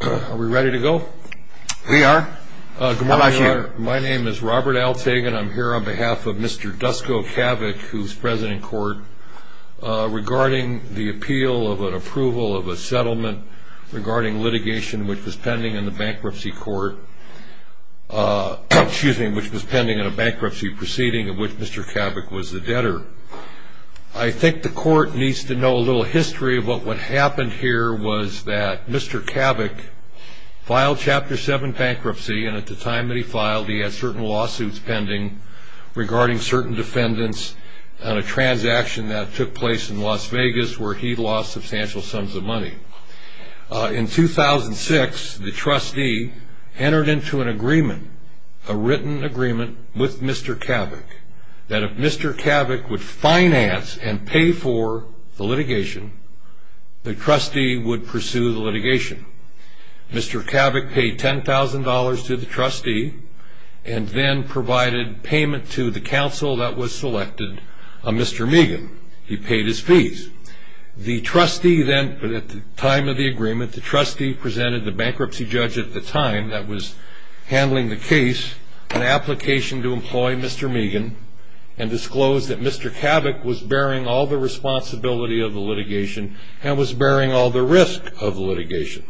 Are we ready to go? We are. How about you? My name is Robert Altagan. I'm here on behalf of Mr. Dusko Cavic, who is president of the court, regarding the appeal of an approval of a settlement regarding litigation which was pending in the bankruptcy court, which was pending in a bankruptcy proceeding in which Mr. Cavic was the debtor. I think the court needs to know a little history of what happened here was that Mr. Cavic filed Chapter 7 bankruptcy, and at the time that he filed, he had certain lawsuits pending regarding certain defendants on a transaction that took place in Las Vegas where he lost substantial sums of money. In 2006, the trustee entered into an agreement, a written agreement, with Mr. Cavic that if Mr. Cavic would finance and pay for the litigation, the trustee would pursue the litigation. Mr. Cavic paid $10,000 to the trustee and then provided payment to the counsel that was selected, Mr. Megan. He paid his fees. The trustee then, at the time of the agreement, the trustee presented the bankruptcy judge at the time that was handling the case an application to employ Mr. Megan and disclosed that Mr. Cavic was bearing all the responsibility of the litigation and was bearing all the risk of the litigation.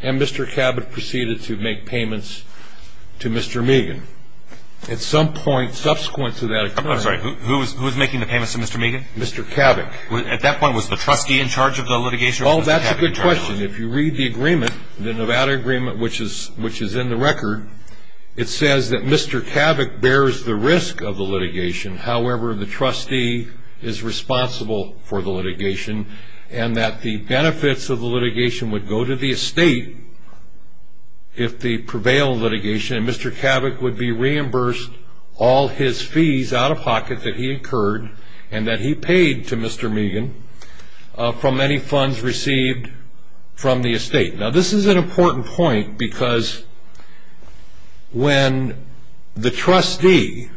And Mr. Cavic proceeded to make payments to Mr. Megan. At some point subsequent to that, I'm sorry, who was making the payments to Mr. Megan? Mr. Cavic. At that point, was the trustee in charge of the litigation? Oh, that's a good question. If you read the agreement, the Nevada agreement, which is in the record, it says that Mr. Cavic bears the risk of the litigation. However, the trustee is responsible for the litigation and that the benefits of the litigation would go to the estate if the prevail litigation and Mr. Cavic would be reimbursed all his fees out of pocket that he incurred and that he paid to Mr. Megan from any funds received from the estate. Now, this is an important point because when the trustee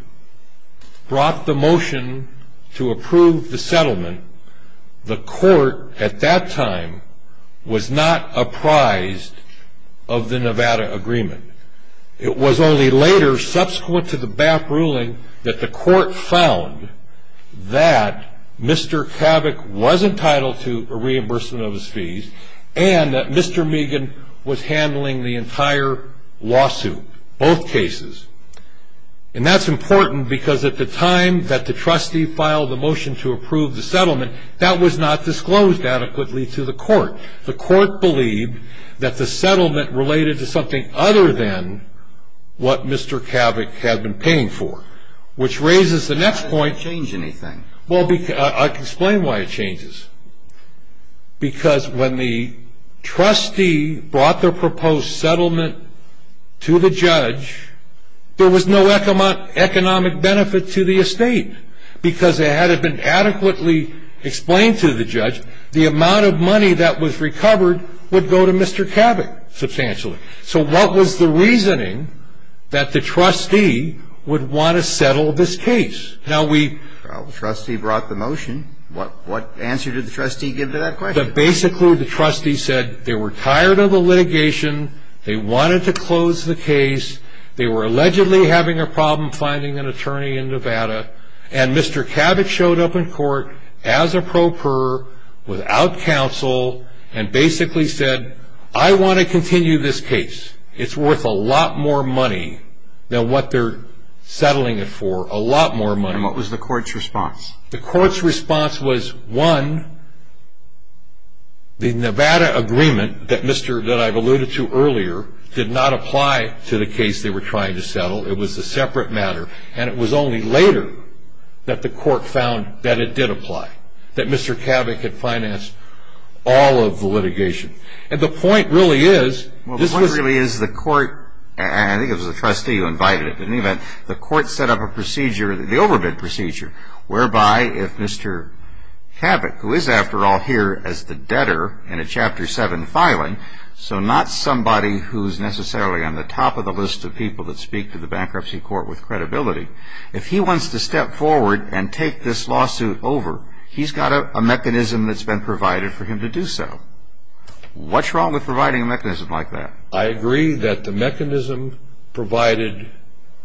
brought the motion to approve the settlement, the court at that time was not apprised of the Nevada agreement. It was only later, subsequent to the BAP ruling, that the court found that Mr. Cavic was entitled to a reimbursement of his fees and that Mr. Megan was handling the entire lawsuit, both cases. And that's important because at the time that the trustee filed the motion to approve the settlement, the court believed that the settlement related to something other than what Mr. Cavic had been paying for, which raises the next point. It doesn't change anything. Well, I can explain why it changes. Because when the trustee brought the proposed settlement to the judge, there was no economic benefit to the estate because it hadn't been adequately explained to the judge. The amount of money that was recovered would go to Mr. Cavic, substantially. So what was the reasoning that the trustee would want to settle this case? Well, the trustee brought the motion. What answer did the trustee give to that question? Basically, the trustee said they were tired of the litigation, they wanted to close the case, and Mr. Cavic showed up in court as a pro per without counsel and basically said, I want to continue this case. It's worth a lot more money than what they're settling it for, a lot more money. And what was the court's response? The court's response was, one, the Nevada agreement that I've alluded to earlier and it was only later that the court found that it did apply, that Mr. Cavic had financed all of the litigation. And the point really is this was... The point really is the court, and I think it was the trustee who invited it, but in any event, the court set up a procedure, the overbid procedure, whereby if Mr. Cavic, who is, after all, here as the debtor in a Chapter 7 filing, so not somebody who's necessarily on the top of the list of people that speak to the bankruptcy court with credibility, if he wants to step forward and take this lawsuit over, he's got a mechanism that's been provided for him to do so. What's wrong with providing a mechanism like that? I agree that the mechanism provided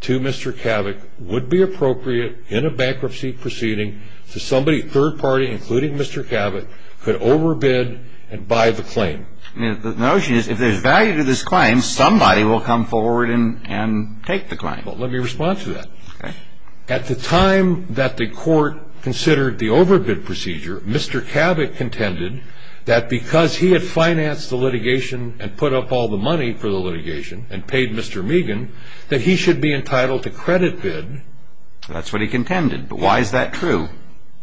to Mr. Cavic would be appropriate in a bankruptcy proceeding so somebody third party, including Mr. Cavic, could overbid and buy the claim. The notion is if there's value to this claim, somebody will come forward and take the claim. Well, let me respond to that. At the time that the court considered the overbid procedure, Mr. Cavic contended that because he had financed the litigation and put up all the money for the litigation and paid Mr. Megan, that he should be entitled to credit bid. That's what he contended, but why is that true?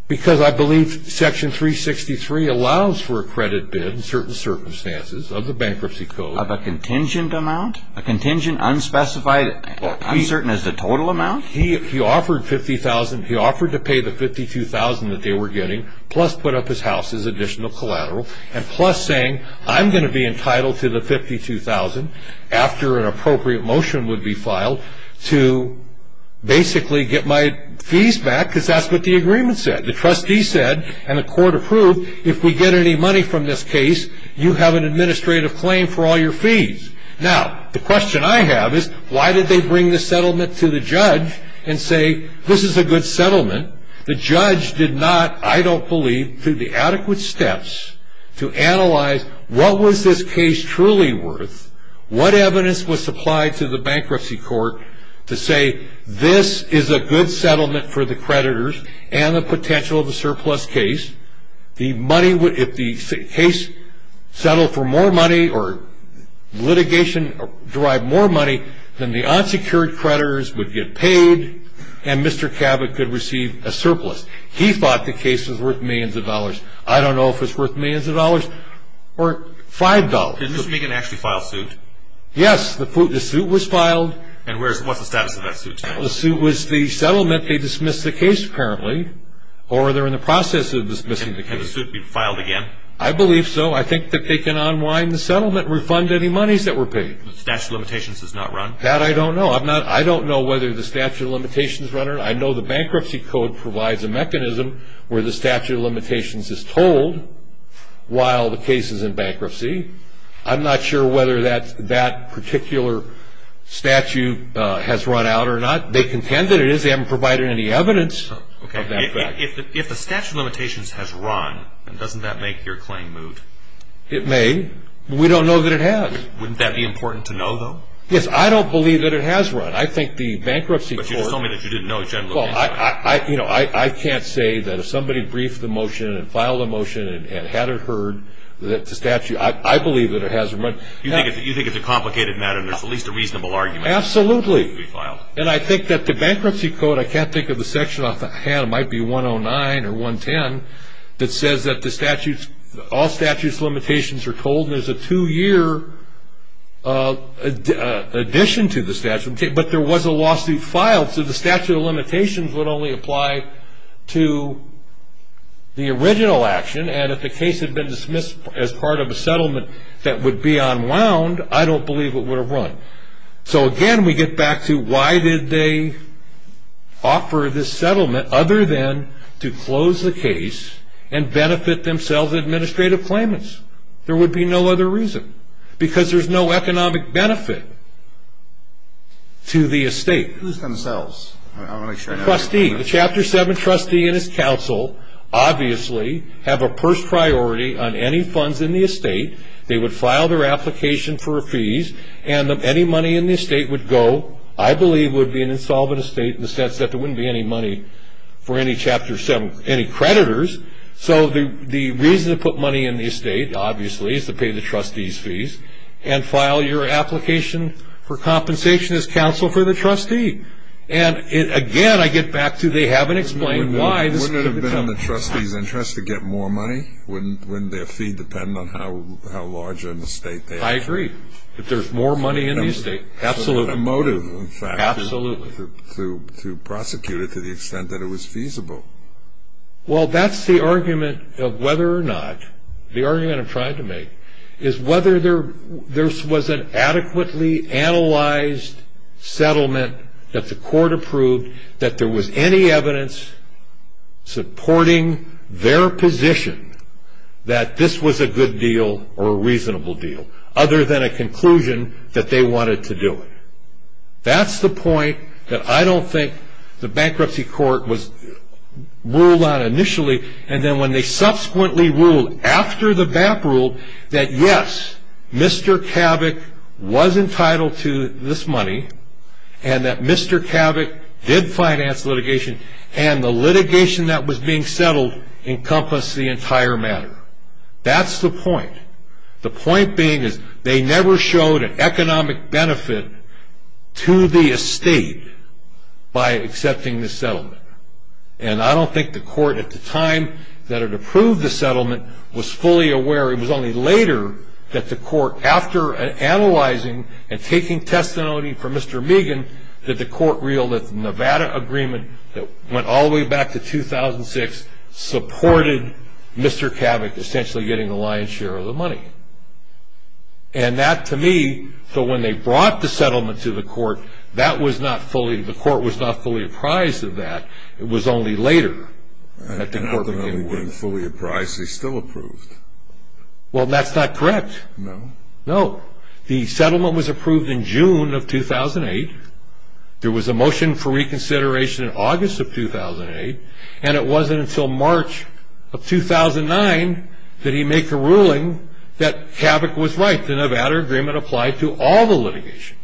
Because I believe Section 363 allows for a credit bid in certain circumstances of the bankruptcy code. Of a contingent amount? A contingent, unspecified, uncertain as the total amount? He offered $50,000, he offered to pay the $52,000 that they were getting, plus put up his house as additional collateral, and plus saying I'm going to be entitled to the $52,000 after an appropriate motion would be filed to basically get my fees back because that's what the agreement said. The trustee said, and the court approved, if we get any money from this case, you have an administrative claim for all your fees. Now, the question I have is why did they bring the settlement to the judge and say this is a good settlement? The judge did not, I don't believe, through the adequate steps to analyze what was this case truly worth, what evidence was supplied to the bankruptcy court to say this is a good settlement for the creditors and the potential of a surplus case. If the case settled for more money or litigation derived more money, then the unsecured creditors would get paid and Mr. Cabot could receive a surplus. He thought the case was worth millions of dollars. I don't know if it's worth millions of dollars or $5. Did Mr. Meehan actually file suit? Yes, the suit was filed. And what's the status of that suit? The suit was the settlement, they dismissed the case apparently, or they're in the process of dismissing the case. Can the suit be filed again? I believe so. I think that they can unwind the settlement, refund any monies that were paid. The statute of limitations is not run? That I don't know. I don't know whether the statute of limitations is run or not. I know the bankruptcy code provides a mechanism where the statute of limitations is told while the case is in bankruptcy. I'm not sure whether that particular statute has run out or not. They contend that it is. They haven't provided any evidence of that fact. If the statute of limitations has run, doesn't that make your claim moot? It may. We don't know that it has. Wouldn't that be important to know, though? Yes, I don't believe that it has run. But you just told me that you didn't know it generally has run. I can't say that if somebody briefed the motion and filed a motion and had it heard that the statute, I believe that it has run. You think it's a complicated matter and there's at least a reasonable argument? Absolutely. And I think that the bankruptcy code, I can't think of the section off the hand, it might be 109 or 110 that says that all statute of limitations are told and there's a two-year addition to the statute, but there was a lawsuit filed, so the statute of limitations would only apply to the original action, and if the case had been dismissed as part of a settlement that would be unwound, I don't believe it would have run. So, again, we get back to why did they offer this settlement other than to close the case and benefit themselves in administrative claimants? There would be no other reason because there's no economic benefit to the estate. Who's themselves? The trustee. The Chapter 7 trustee and his counsel obviously have a purse priority on any funds in the estate. They would file their application for a fees and any money in the estate would go, I believe would be an insolvent estate in the sense that there wouldn't be any money for any Chapter 7 creditors, so the reason to put money in the estate, obviously, is to pay the trustee's fees and file your application for compensation as counsel for the trustee. And, again, I get back to they haven't explained why. Wouldn't it have been in the trustee's interest to get more money? Wouldn't their fee depend on how large an estate they have? I agree. If there's more money in the estate, absolutely. A motive, in fact. Absolutely. To prosecute it to the extent that it was feasible. Well, that's the argument of whether or not, the argument I'm trying to make, is whether there was an adequately analyzed settlement that the court approved, that there was any evidence supporting their position that this was a good deal or a reasonable deal, other than a conclusion that they wanted to do it. That's the point that I don't think the bankruptcy court ruled on initially, and then when they subsequently ruled, after the BAP ruled, that, yes, Mr. Kavik was entitled to this money, and that Mr. Kavik did finance litigation, and the litigation that was being settled encompassed the entire matter. That's the point. The point being is they never showed an economic benefit to the estate by accepting this settlement, and I don't think the court, at the time that it approved the settlement, was fully aware. It was only later that the court, after analyzing and taking testimony from Mr. Megan, that the court reeled that the Nevada agreement that went all the way back to 2006 supported Mr. Kavik essentially getting a lion's share of the money. And that, to me, so when they brought the settlement to the court, that was not fully, the court was not fully apprised of that. It was only later that the court became aware. When fully apprised, they still approved. Well, that's not correct. No? No. The settlement was approved in June of 2008. There was a motion for reconsideration in August of 2008, and it wasn't until March of 2009 that he made the ruling that Kavik was right. The Nevada agreement applied to all the litigations,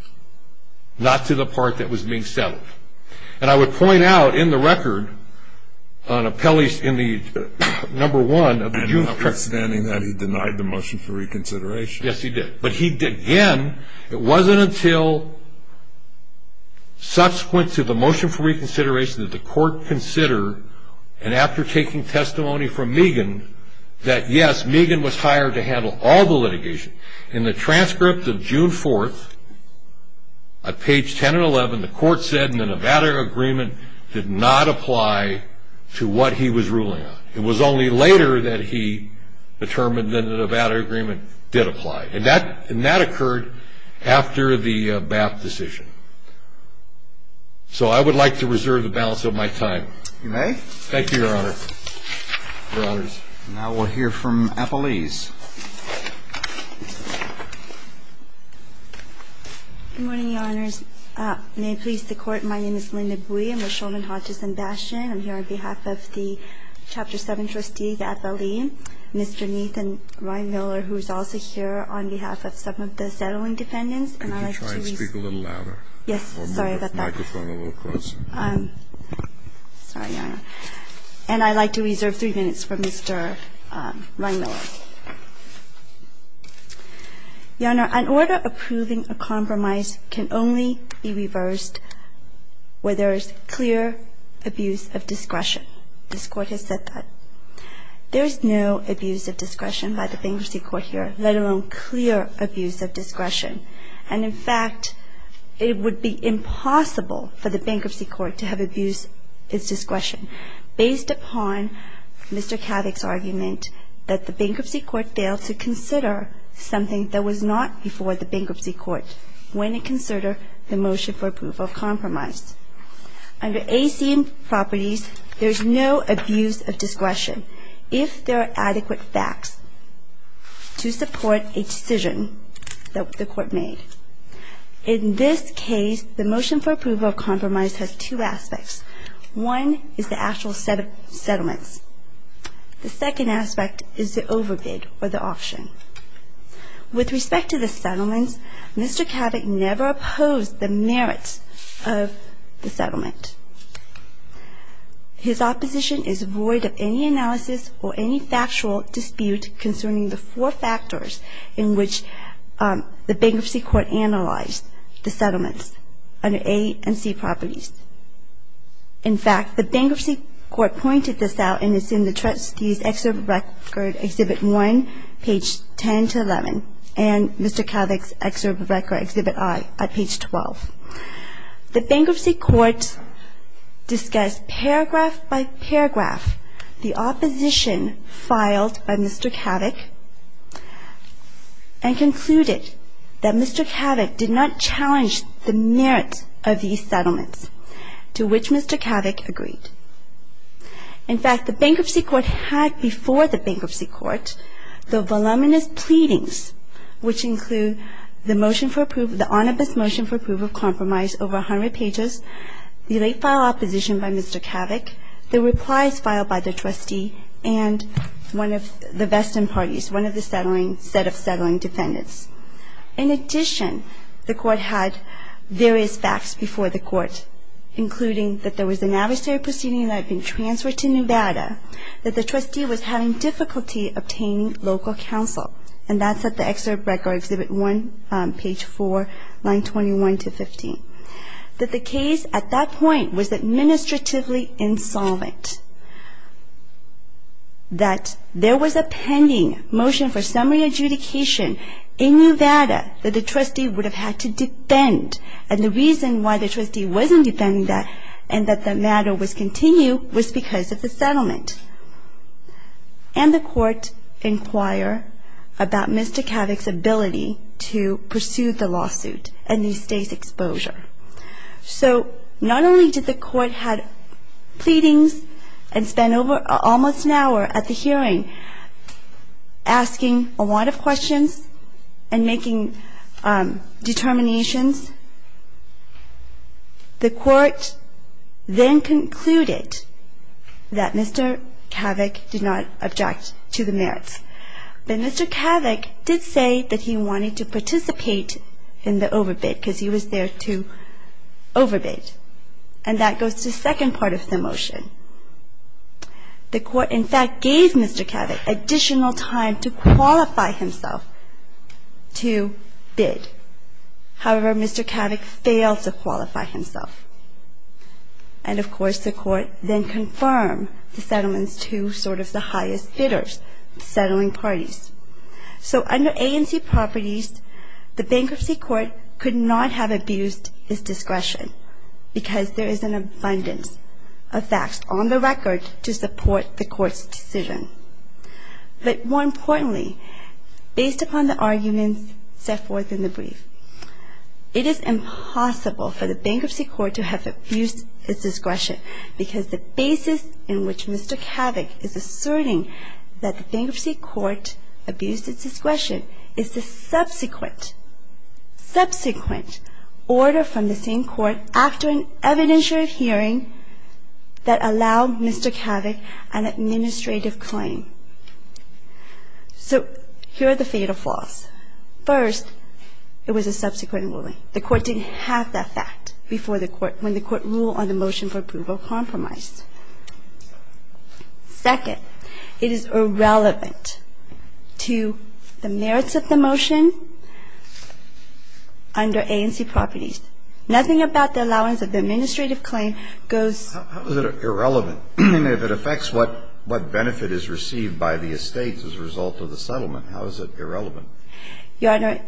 not to the part that was being settled. And I would point out in the record, on appellees in the number one of the juvenile court. And notwithstanding that, he denied the motion for reconsideration. Yes, he did. But he, again, it wasn't until subsequent to the motion for reconsideration that the court considered, and after taking testimony from Meegan, that, yes, Meegan was hired to handle all the litigation. In the transcript of June 4th, at page 10 and 11, the court said the Nevada agreement did not apply to what he was ruling on. It was only later that he determined that the Nevada agreement did apply. And that occurred after the BAP decision. So I would like to reserve the balance of my time. You may. Thank you, Your Honor. Your Honors. Now we'll hear from appellees. Good morning, Your Honors. May it please the Court, my name is Linda Bui. I'm with Shulman, Hodges & Bastion. I'm here on behalf of the Chapter 7 trustee, the appellee, Mr. Nathan Reinmiller, who is also here on behalf of some of the settling defendants. Could you try and speak a little louder? Yes, sorry about that. Or move the microphone a little closer. Sorry, Your Honor. And I'd like to reserve three minutes for Mr. Reinmiller. Your Honor, an order approving a compromise can only be reversed where there is clear abuse of discretion. This Court has said that. There is no abuse of discretion by the Bankruptcy Court here, let alone clear abuse of discretion. And, in fact, it would be impossible for the Bankruptcy Court to have abused its discretion, based upon Mr. Kavik's argument that the Bankruptcy Court failed to consider something that was not before the Bankruptcy Court when it considered the motion for approval of compromise. Under ACM properties, there is no abuse of discretion if there are adequate facts to support a decision that the Court made. In this case, the motion for approval of compromise has two aspects. One is the actual set of settlements. The second aspect is the overbid or the option. With respect to the settlements, Mr. Kavik never opposed the merits of the settlement. His opposition is void of any analysis or any factual dispute concerning the four factors in which the Bankruptcy Court analyzed the settlements under A and C properties. In fact, the Bankruptcy Court pointed this out in its Excerpt Record Exhibit 1, page 10 to 11, and Mr. Kavik's Excerpt Record Exhibit I at page 12. The Bankruptcy Court discussed paragraph by paragraph the opposition filed by Mr. Kavik and concluded that Mr. Kavik did not challenge the merits of these settlements, to which Mr. Kavik agreed. In fact, the Bankruptcy Court had before the Bankruptcy Court the voluminous pleadings, which include the motion for approval, the onus motion for approval of compromise over 100 pages, the late-filed opposition by Mr. Kavik, the replies filed by the trustee, and one of the vesting parties, one of the set of settling defendants. In addition, the Court had various facts before the Court, including that there was an adversary proceeding that had been transferred to Nevada, that the trustee was having difficulty obtaining local counsel, and that's at the Excerpt Record Exhibit 1, page 4, line 21 to 15. That the case at that point was administratively insolvent. That there was a pending motion for summary adjudication in Nevada that the trustee would have had to defend, and the reason why the trustee wasn't defending that and that the matter was continued was because of the settlement. And the Court inquired about Mr. Kavik's ability to pursue the lawsuit and the estate's exposure. So not only did the Court have pleadings and spend over almost an hour at the hearing asking a lot of questions and making determinations, the Court then concluded that Mr. Kavik did not object to the merits. But Mr. Kavik did say that he wanted to participate in the overbid because he was there to overbid, and that goes to the second part of the motion. The Court, in fact, gave Mr. Kavik additional time to qualify himself to bid. However, Mr. Kavik failed to qualify himself. And, of course, the Court then confirmed the settlements to sort of the highest bidders, the settling parties. So under ANC properties, the Bankruptcy Court could not have abused his discretion because there is an abundance of facts on the record to support the Court's decision. But more importantly, based upon the arguments set forth in the brief, it is impossible for the Bankruptcy Court to have abused its discretion because the basis in which Mr. Kavik is asserting that the Bankruptcy Court abused its discretion is the subsequent order from the same Court after an evidentiary hearing that allowed Mr. Kavik an administrative claim. So here are the fatal flaws. First, it was a subsequent ruling. The Court didn't have that fact before the Court when the Court ruled on the motion for approval compromise. Second, it is irrelevant to the merits of the motion under ANC properties. Nothing about the allowance of the administrative claim goes to the merits of the motion. How is it irrelevant? If it affects what benefit is received by the estates as a result of the settlement, how is it irrelevant? It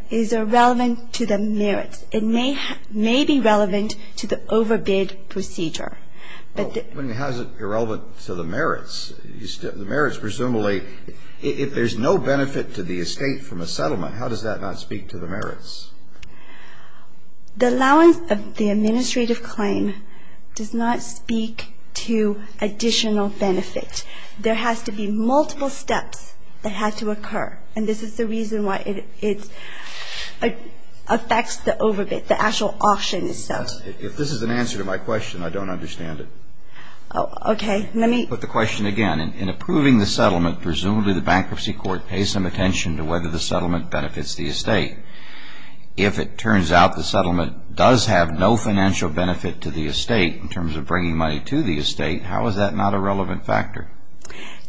may be relevant to the overbid procedure. But how is it irrelevant to the merits? The merits presumably, if there's no benefit to the estate from a settlement, how does that not speak to the merits? The allowance of the administrative claim does not speak to additional benefit. There has to be multiple steps that have to occur. And this is the reason why it affects the overbid, the actual auction itself. If this is an answer to my question, I don't understand it. Okay. Let me put the question again. In approving the settlement, presumably the Bankruptcy Court pays some attention to whether the settlement benefits the estate. If it turns out the settlement does have no financial benefit to the estate in terms of bringing money to the estate, how is that not a relevant factor?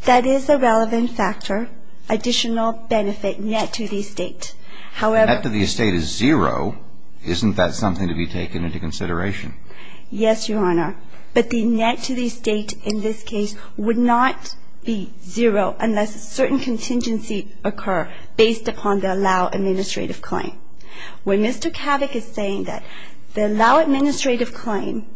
That is a relevant factor, additional benefit net to the estate. However... If the net to the estate is zero, isn't that something to be taken into consideration? Yes, Your Honor. But the net to the estate in this case would not be zero unless a certain contingency occur based upon the allow administrative claim. When Mr. Kavik is saying that the allow administrative claim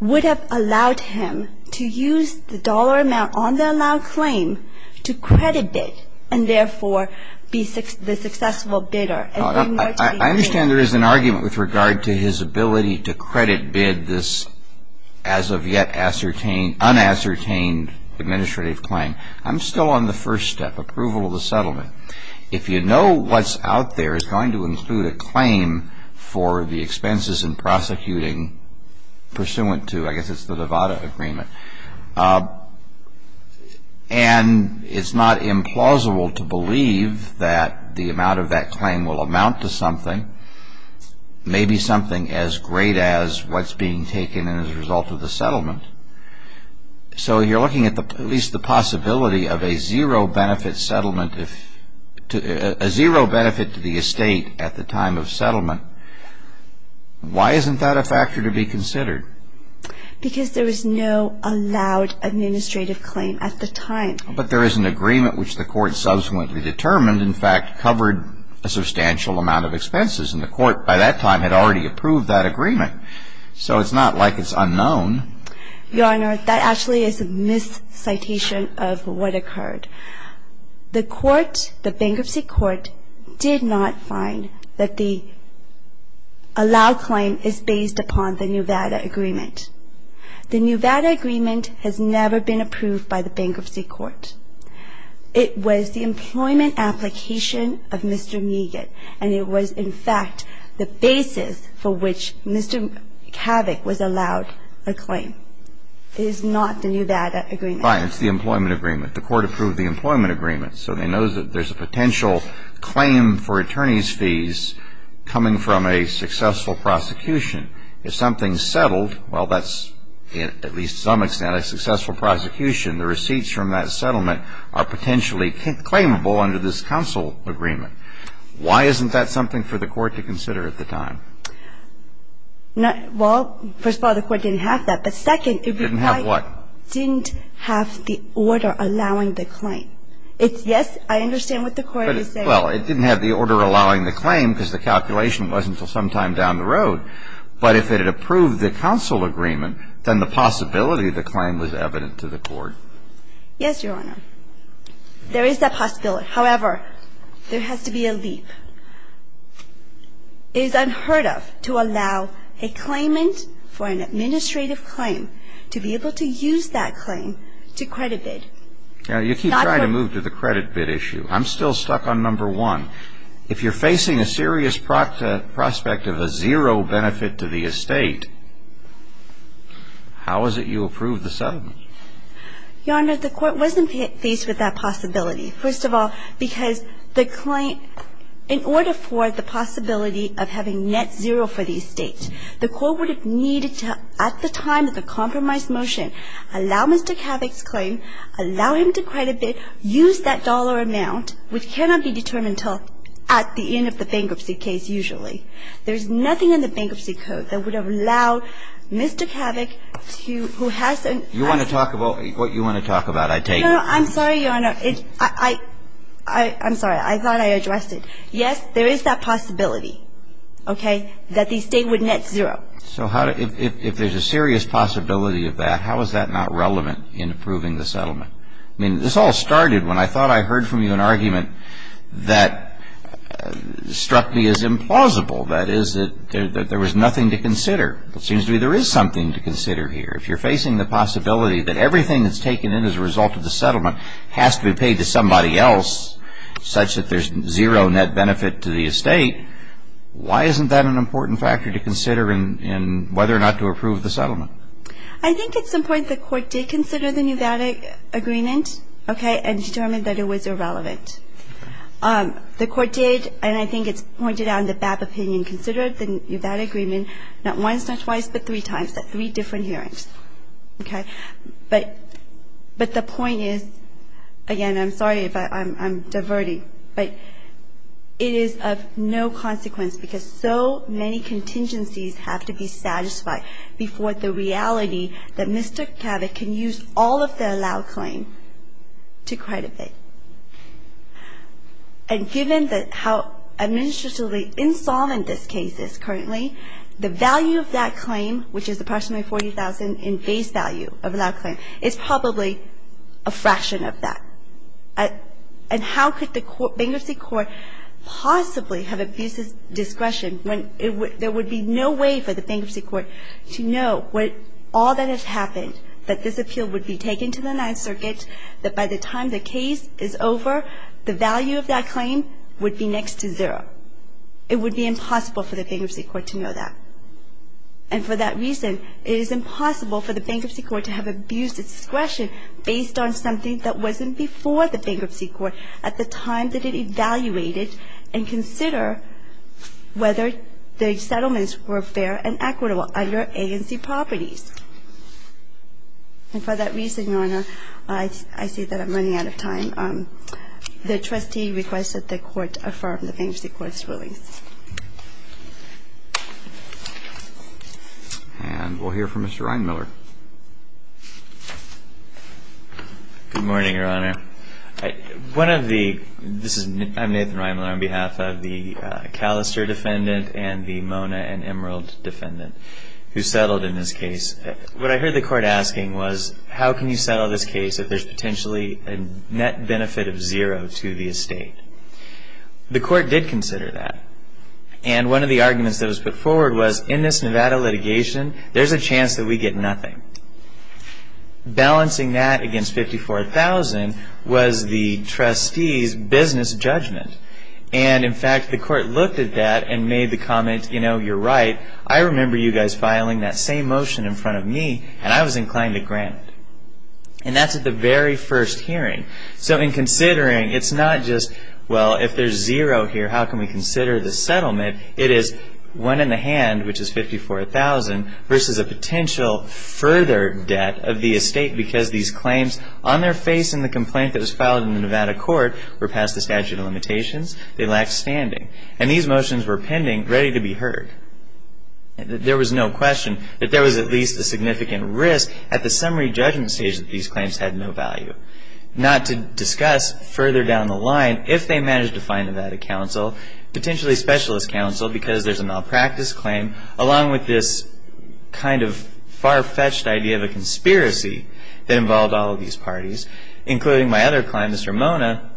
would have allowed him to use the dollar amount on the allow claim to credit bid and, therefore, be the successful bidder. I understand there is an argument with regard to his ability to credit bid this as-of-yet unascertained administrative claim. I'm still on the first step, approval of the settlement. If you know what's out there is going to include a claim for the expenses in prosecuting pursuant to, I guess it's the Nevada Agreement, and it's not implausible to believe that the amount of that claim will amount to something, maybe something as great as what's being taken as a result of the settlement. So you're looking at at least the possibility of a zero benefit settlement, a zero benefit to the estate at the time of settlement. Why isn't that a factor to be considered? Because there was no allowed administrative claim at the time. But there is an agreement which the Court subsequently determined, in fact, covered a substantial amount of expenses, and the Court by that decision did not find that the allow claim is based upon the Nevada Agreement. The Nevada Agreement has never been approved by the Bankruptcy Court. It was the employment application of Mr. Neigat, and it was, in fact, the basis for which Mr. Kavik was allowed a claim. So the Nevada Agreement is not the Nevada Agreement. Fine. It's the employment agreement. The Court approved the employment agreement, so they know that there's a potential claim for attorneys' fees coming from a successful prosecution. If something's settled, well, that's, at least to some extent, a successful prosecution. The receipts from that settlement are potentially claimable under this counsel agreement. Why isn't that something for the Well, it didn't have what? It didn't have the order allowing the claim. It's, yes, I understand what the Court is saying. Well, it didn't have the order allowing the claim because the calculation wasn't until sometime down the road. But if it had approved the counsel agreement, then the possibility of the claim was evident to the Court. Yes, Your Honor. There is that possibility. However, there has to be a leap. It is unheard of to allow a claimant for an administrative claim to be able to use that claim to credit bid. Now, you keep trying to move to the credit bid issue. I'm still stuck on number one. If you're facing a serious prospect of a zero benefit to the estate, how is it you approve the settlement? Your Honor, the Court wasn't faced with that possibility, first of all, because the claim, in order for the possibility of having net zero for the estate, the Court would have needed to, at the time of the compromise motion, allow Mr. Kavik's claim, allow him to credit bid, use that dollar amount, which cannot be determined until at the end of the bankruptcy case, usually. There's nothing in the bankruptcy code that would have allowed Mr. Kavik to, who has an asset. You want to talk about what you want to talk about, I take it. No, no. I'm sorry, Your Honor. I'm sorry. I thought I addressed it. Yes, there is that possibility, okay, that the estate would net zero. So if there's a serious possibility of that, how is that not relevant in approving the settlement? I mean, this all started when I thought I heard from you an argument that struck me as implausible, that is, that there was nothing to consider. It seems to me there is something to consider here. If you're facing the possibility that everything that's taken in as a result of the settlement has to be paid to somebody else, such that there's zero net benefit to the estate, why isn't that an important factor to consider in whether or not to approve the settlement? I think at some point the Court did consider the Nevada agreement, okay, and determined that it was irrelevant. The Court did, and I think it's pointed out in the BAP opinion, considered the Nevada agreement not once, not twice, but three times at three different hearings, okay? But the point is, again, I'm sorry if I'm diverting, but it is of no consequence because so many contingencies have to be satisfied before the reality that Mr. Kavik can use all of the allowed claim to credit it. And given how administratively insolvent this case is currently, the value of that claim, which is approximately $40,000 in base value of allowed claim, is probably a fraction of that. And how could the bankruptcy court possibly have abuses discretion when there would be no way for the bankruptcy court to know what all that has happened, that this appeal would be taken to the Ninth Circuit, that by the time the case is over, the value of that claim would be next to zero? It would be impossible for the bankruptcy court to know that. And for that reason, it is impossible for the bankruptcy court to have abused discretion based on something that wasn't before the bankruptcy court at the time that it evaluated and considered whether the settlements were fair and equitable under agency properties. And for that reason, Your Honor, I see that I'm running out of time. The trustee requests that the court affirm the bankruptcy court's rulings. And we'll hear from Mr. Reinmiller. Good morning, Your Honor. One of the – this is Nathan Reinmiller on behalf of the Callister defendant and the Mona and Emerald defendant. Who settled in this case. What I heard the court asking was, how can you settle this case if there's potentially a net benefit of zero to the estate? The court did consider that. And one of the arguments that was put forward was, in this Nevada litigation, there's a chance that we get nothing. Balancing that against $54,000 was the trustee's business judgment. And in fact, the court looked at that and made the comment, you know, you're right. I remember you guys filing that same motion in front of me, and I was inclined to grant it. And that's at the very first hearing. So in considering, it's not just, well, if there's zero here, how can we consider the settlement? It is one in the hand, which is $54,000, versus a potential further debt of the estate because these claims on their face in the complaint that was filed in the Nevada court were past the statute of limitations. They lacked standing. And these motions were pending, ready to be heard. There was no question that there was at least a significant risk at the summary judgment stage that these claims had no value. Not to discuss further down the line, if they managed to find Nevada counsel, potentially specialist counsel because there's a malpractice claim, along with this kind of far-fetched idea of a conspiracy that involved all of these parties, including my other client, Mr. Mona,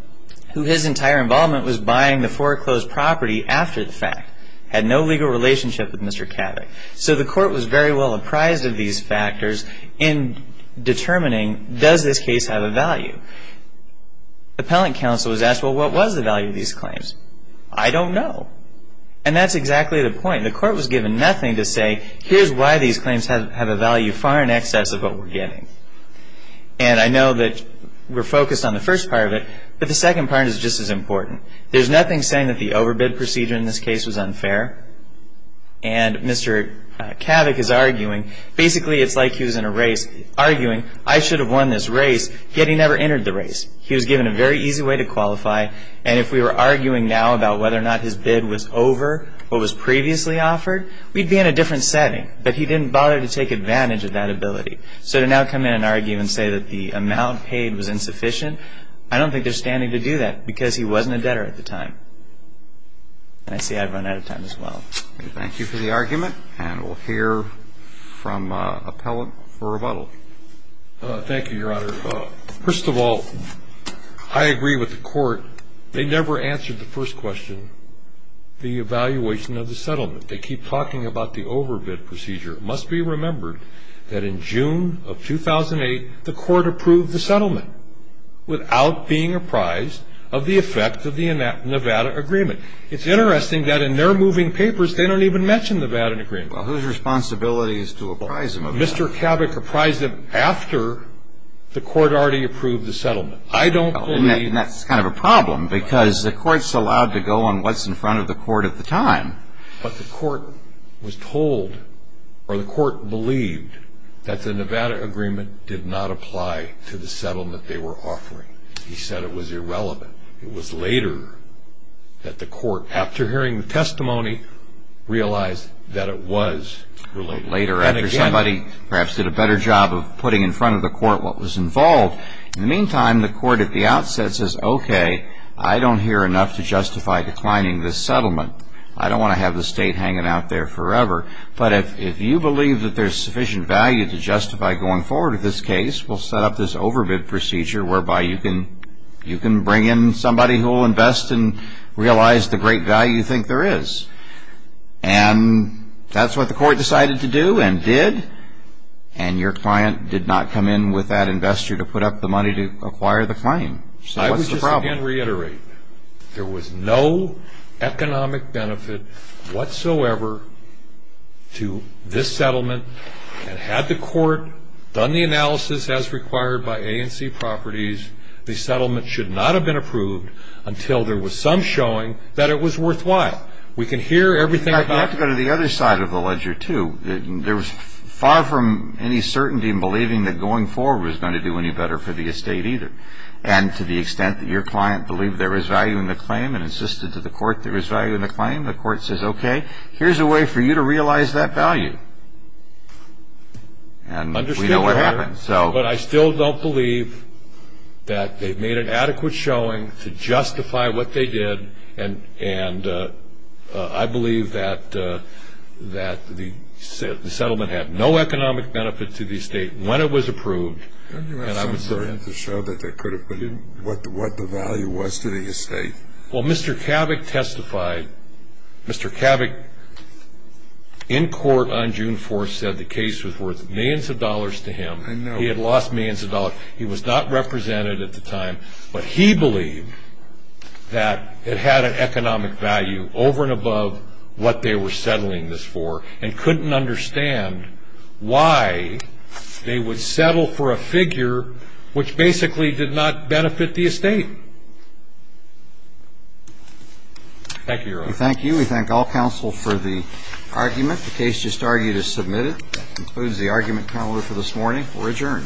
who his entire involvement was buying the foreclosed property after the fact. Had no legal relationship with Mr. Kavik. So the court was very well apprised of these factors in determining, does this case have a value? Appellant counsel was asked, well, what was the value of these claims? I don't know. And that's exactly the point. The court was given nothing to say, here's why these claims have a value far in excess of what we're getting. And I know that we're focused on the first part of it, but the second part is just as important. There's nothing saying that the overbid procedure in this case was unfair. And Mr. Kavik is arguing, basically it's like he was in a race, arguing, I should have won this race, yet he never entered the race. He was given a very easy way to qualify. And if we were arguing now about whether or not his bid was over what was previously offered, we'd be in a different setting. But he didn't bother to take advantage of that ability. So to now come in and argue and say that the amount paid was insufficient, I don't think they're standing to do that, because he wasn't a debtor at the time. And I see I've run out of time as well. Thank you for the argument. And we'll hear from an appellant for rebuttal. Thank you, Your Honor. First of all, I agree with the court. They never answered the first question, the evaluation of the settlement. They keep talking about the overbid procedure. It must be remembered that in June of 2008, the court approved the settlement without being apprised of the effect of the Nevada Agreement. It's interesting that in their moving papers, they don't even mention Nevada Agreement. Well, whose responsibility is to apprise them of it? Mr. Kavik apprised them after the court already approved the settlement. And that's kind of a problem, because the court's allowed to go on what's in front of the court at the time. But the court was told, or the court believed, that the Nevada Agreement did not apply to the settlement they were offering. He said it was irrelevant. It was later that the court, after hearing the testimony, realized that it was related. Later, after somebody perhaps did a better job of putting in front of the court what was involved. In the meantime, the court at the outset says, okay, I don't hear enough to justify declining this settlement. I don't want to have the state hanging out there forever. But if you believe that there's sufficient value to justify going forward with this case, we'll set up this overbid procedure whereby you can bring in somebody who will invest and realize the great value you think there is. And that's what the court decided to do and did. And your client did not come in with that investor to put up the money to acquire the claim. So what's the problem? There was no economic benefit whatsoever to this settlement. And had the court done the analysis as required by A&C Properties, the settlement should not have been approved until there was some showing that it was worthwhile. We can hear everything about it. You have to go to the other side of the ledger, too. There was far from any certainty in believing that going forward was going to do any better for the estate either. And to the extent that your client believed there was value in the claim and insisted to the court there was value in the claim, the court says, okay, here's a way for you to realize that value. And we know what happened. But I still don't believe that they've made an adequate showing to justify what they did. And I believe that the settlement had no economic benefit to the estate when it was approved. Don't you have something to show that they could have put in what the value was to the estate? Well, Mr. Kavik testified. Mr. Kavik, in court on June 4th, said the case was worth millions of dollars to him. I know. He had lost millions of dollars. He was not represented at the time. But he believed that it had an economic value over and above what they were settling this for and couldn't understand why they would settle for a figure which basically did not benefit the estate. Thank you, Your Honor. We thank you. We thank all counsel for the argument. The case just argued is submitted. That concludes the argument calendar for this morning. We're adjourned. Thank you.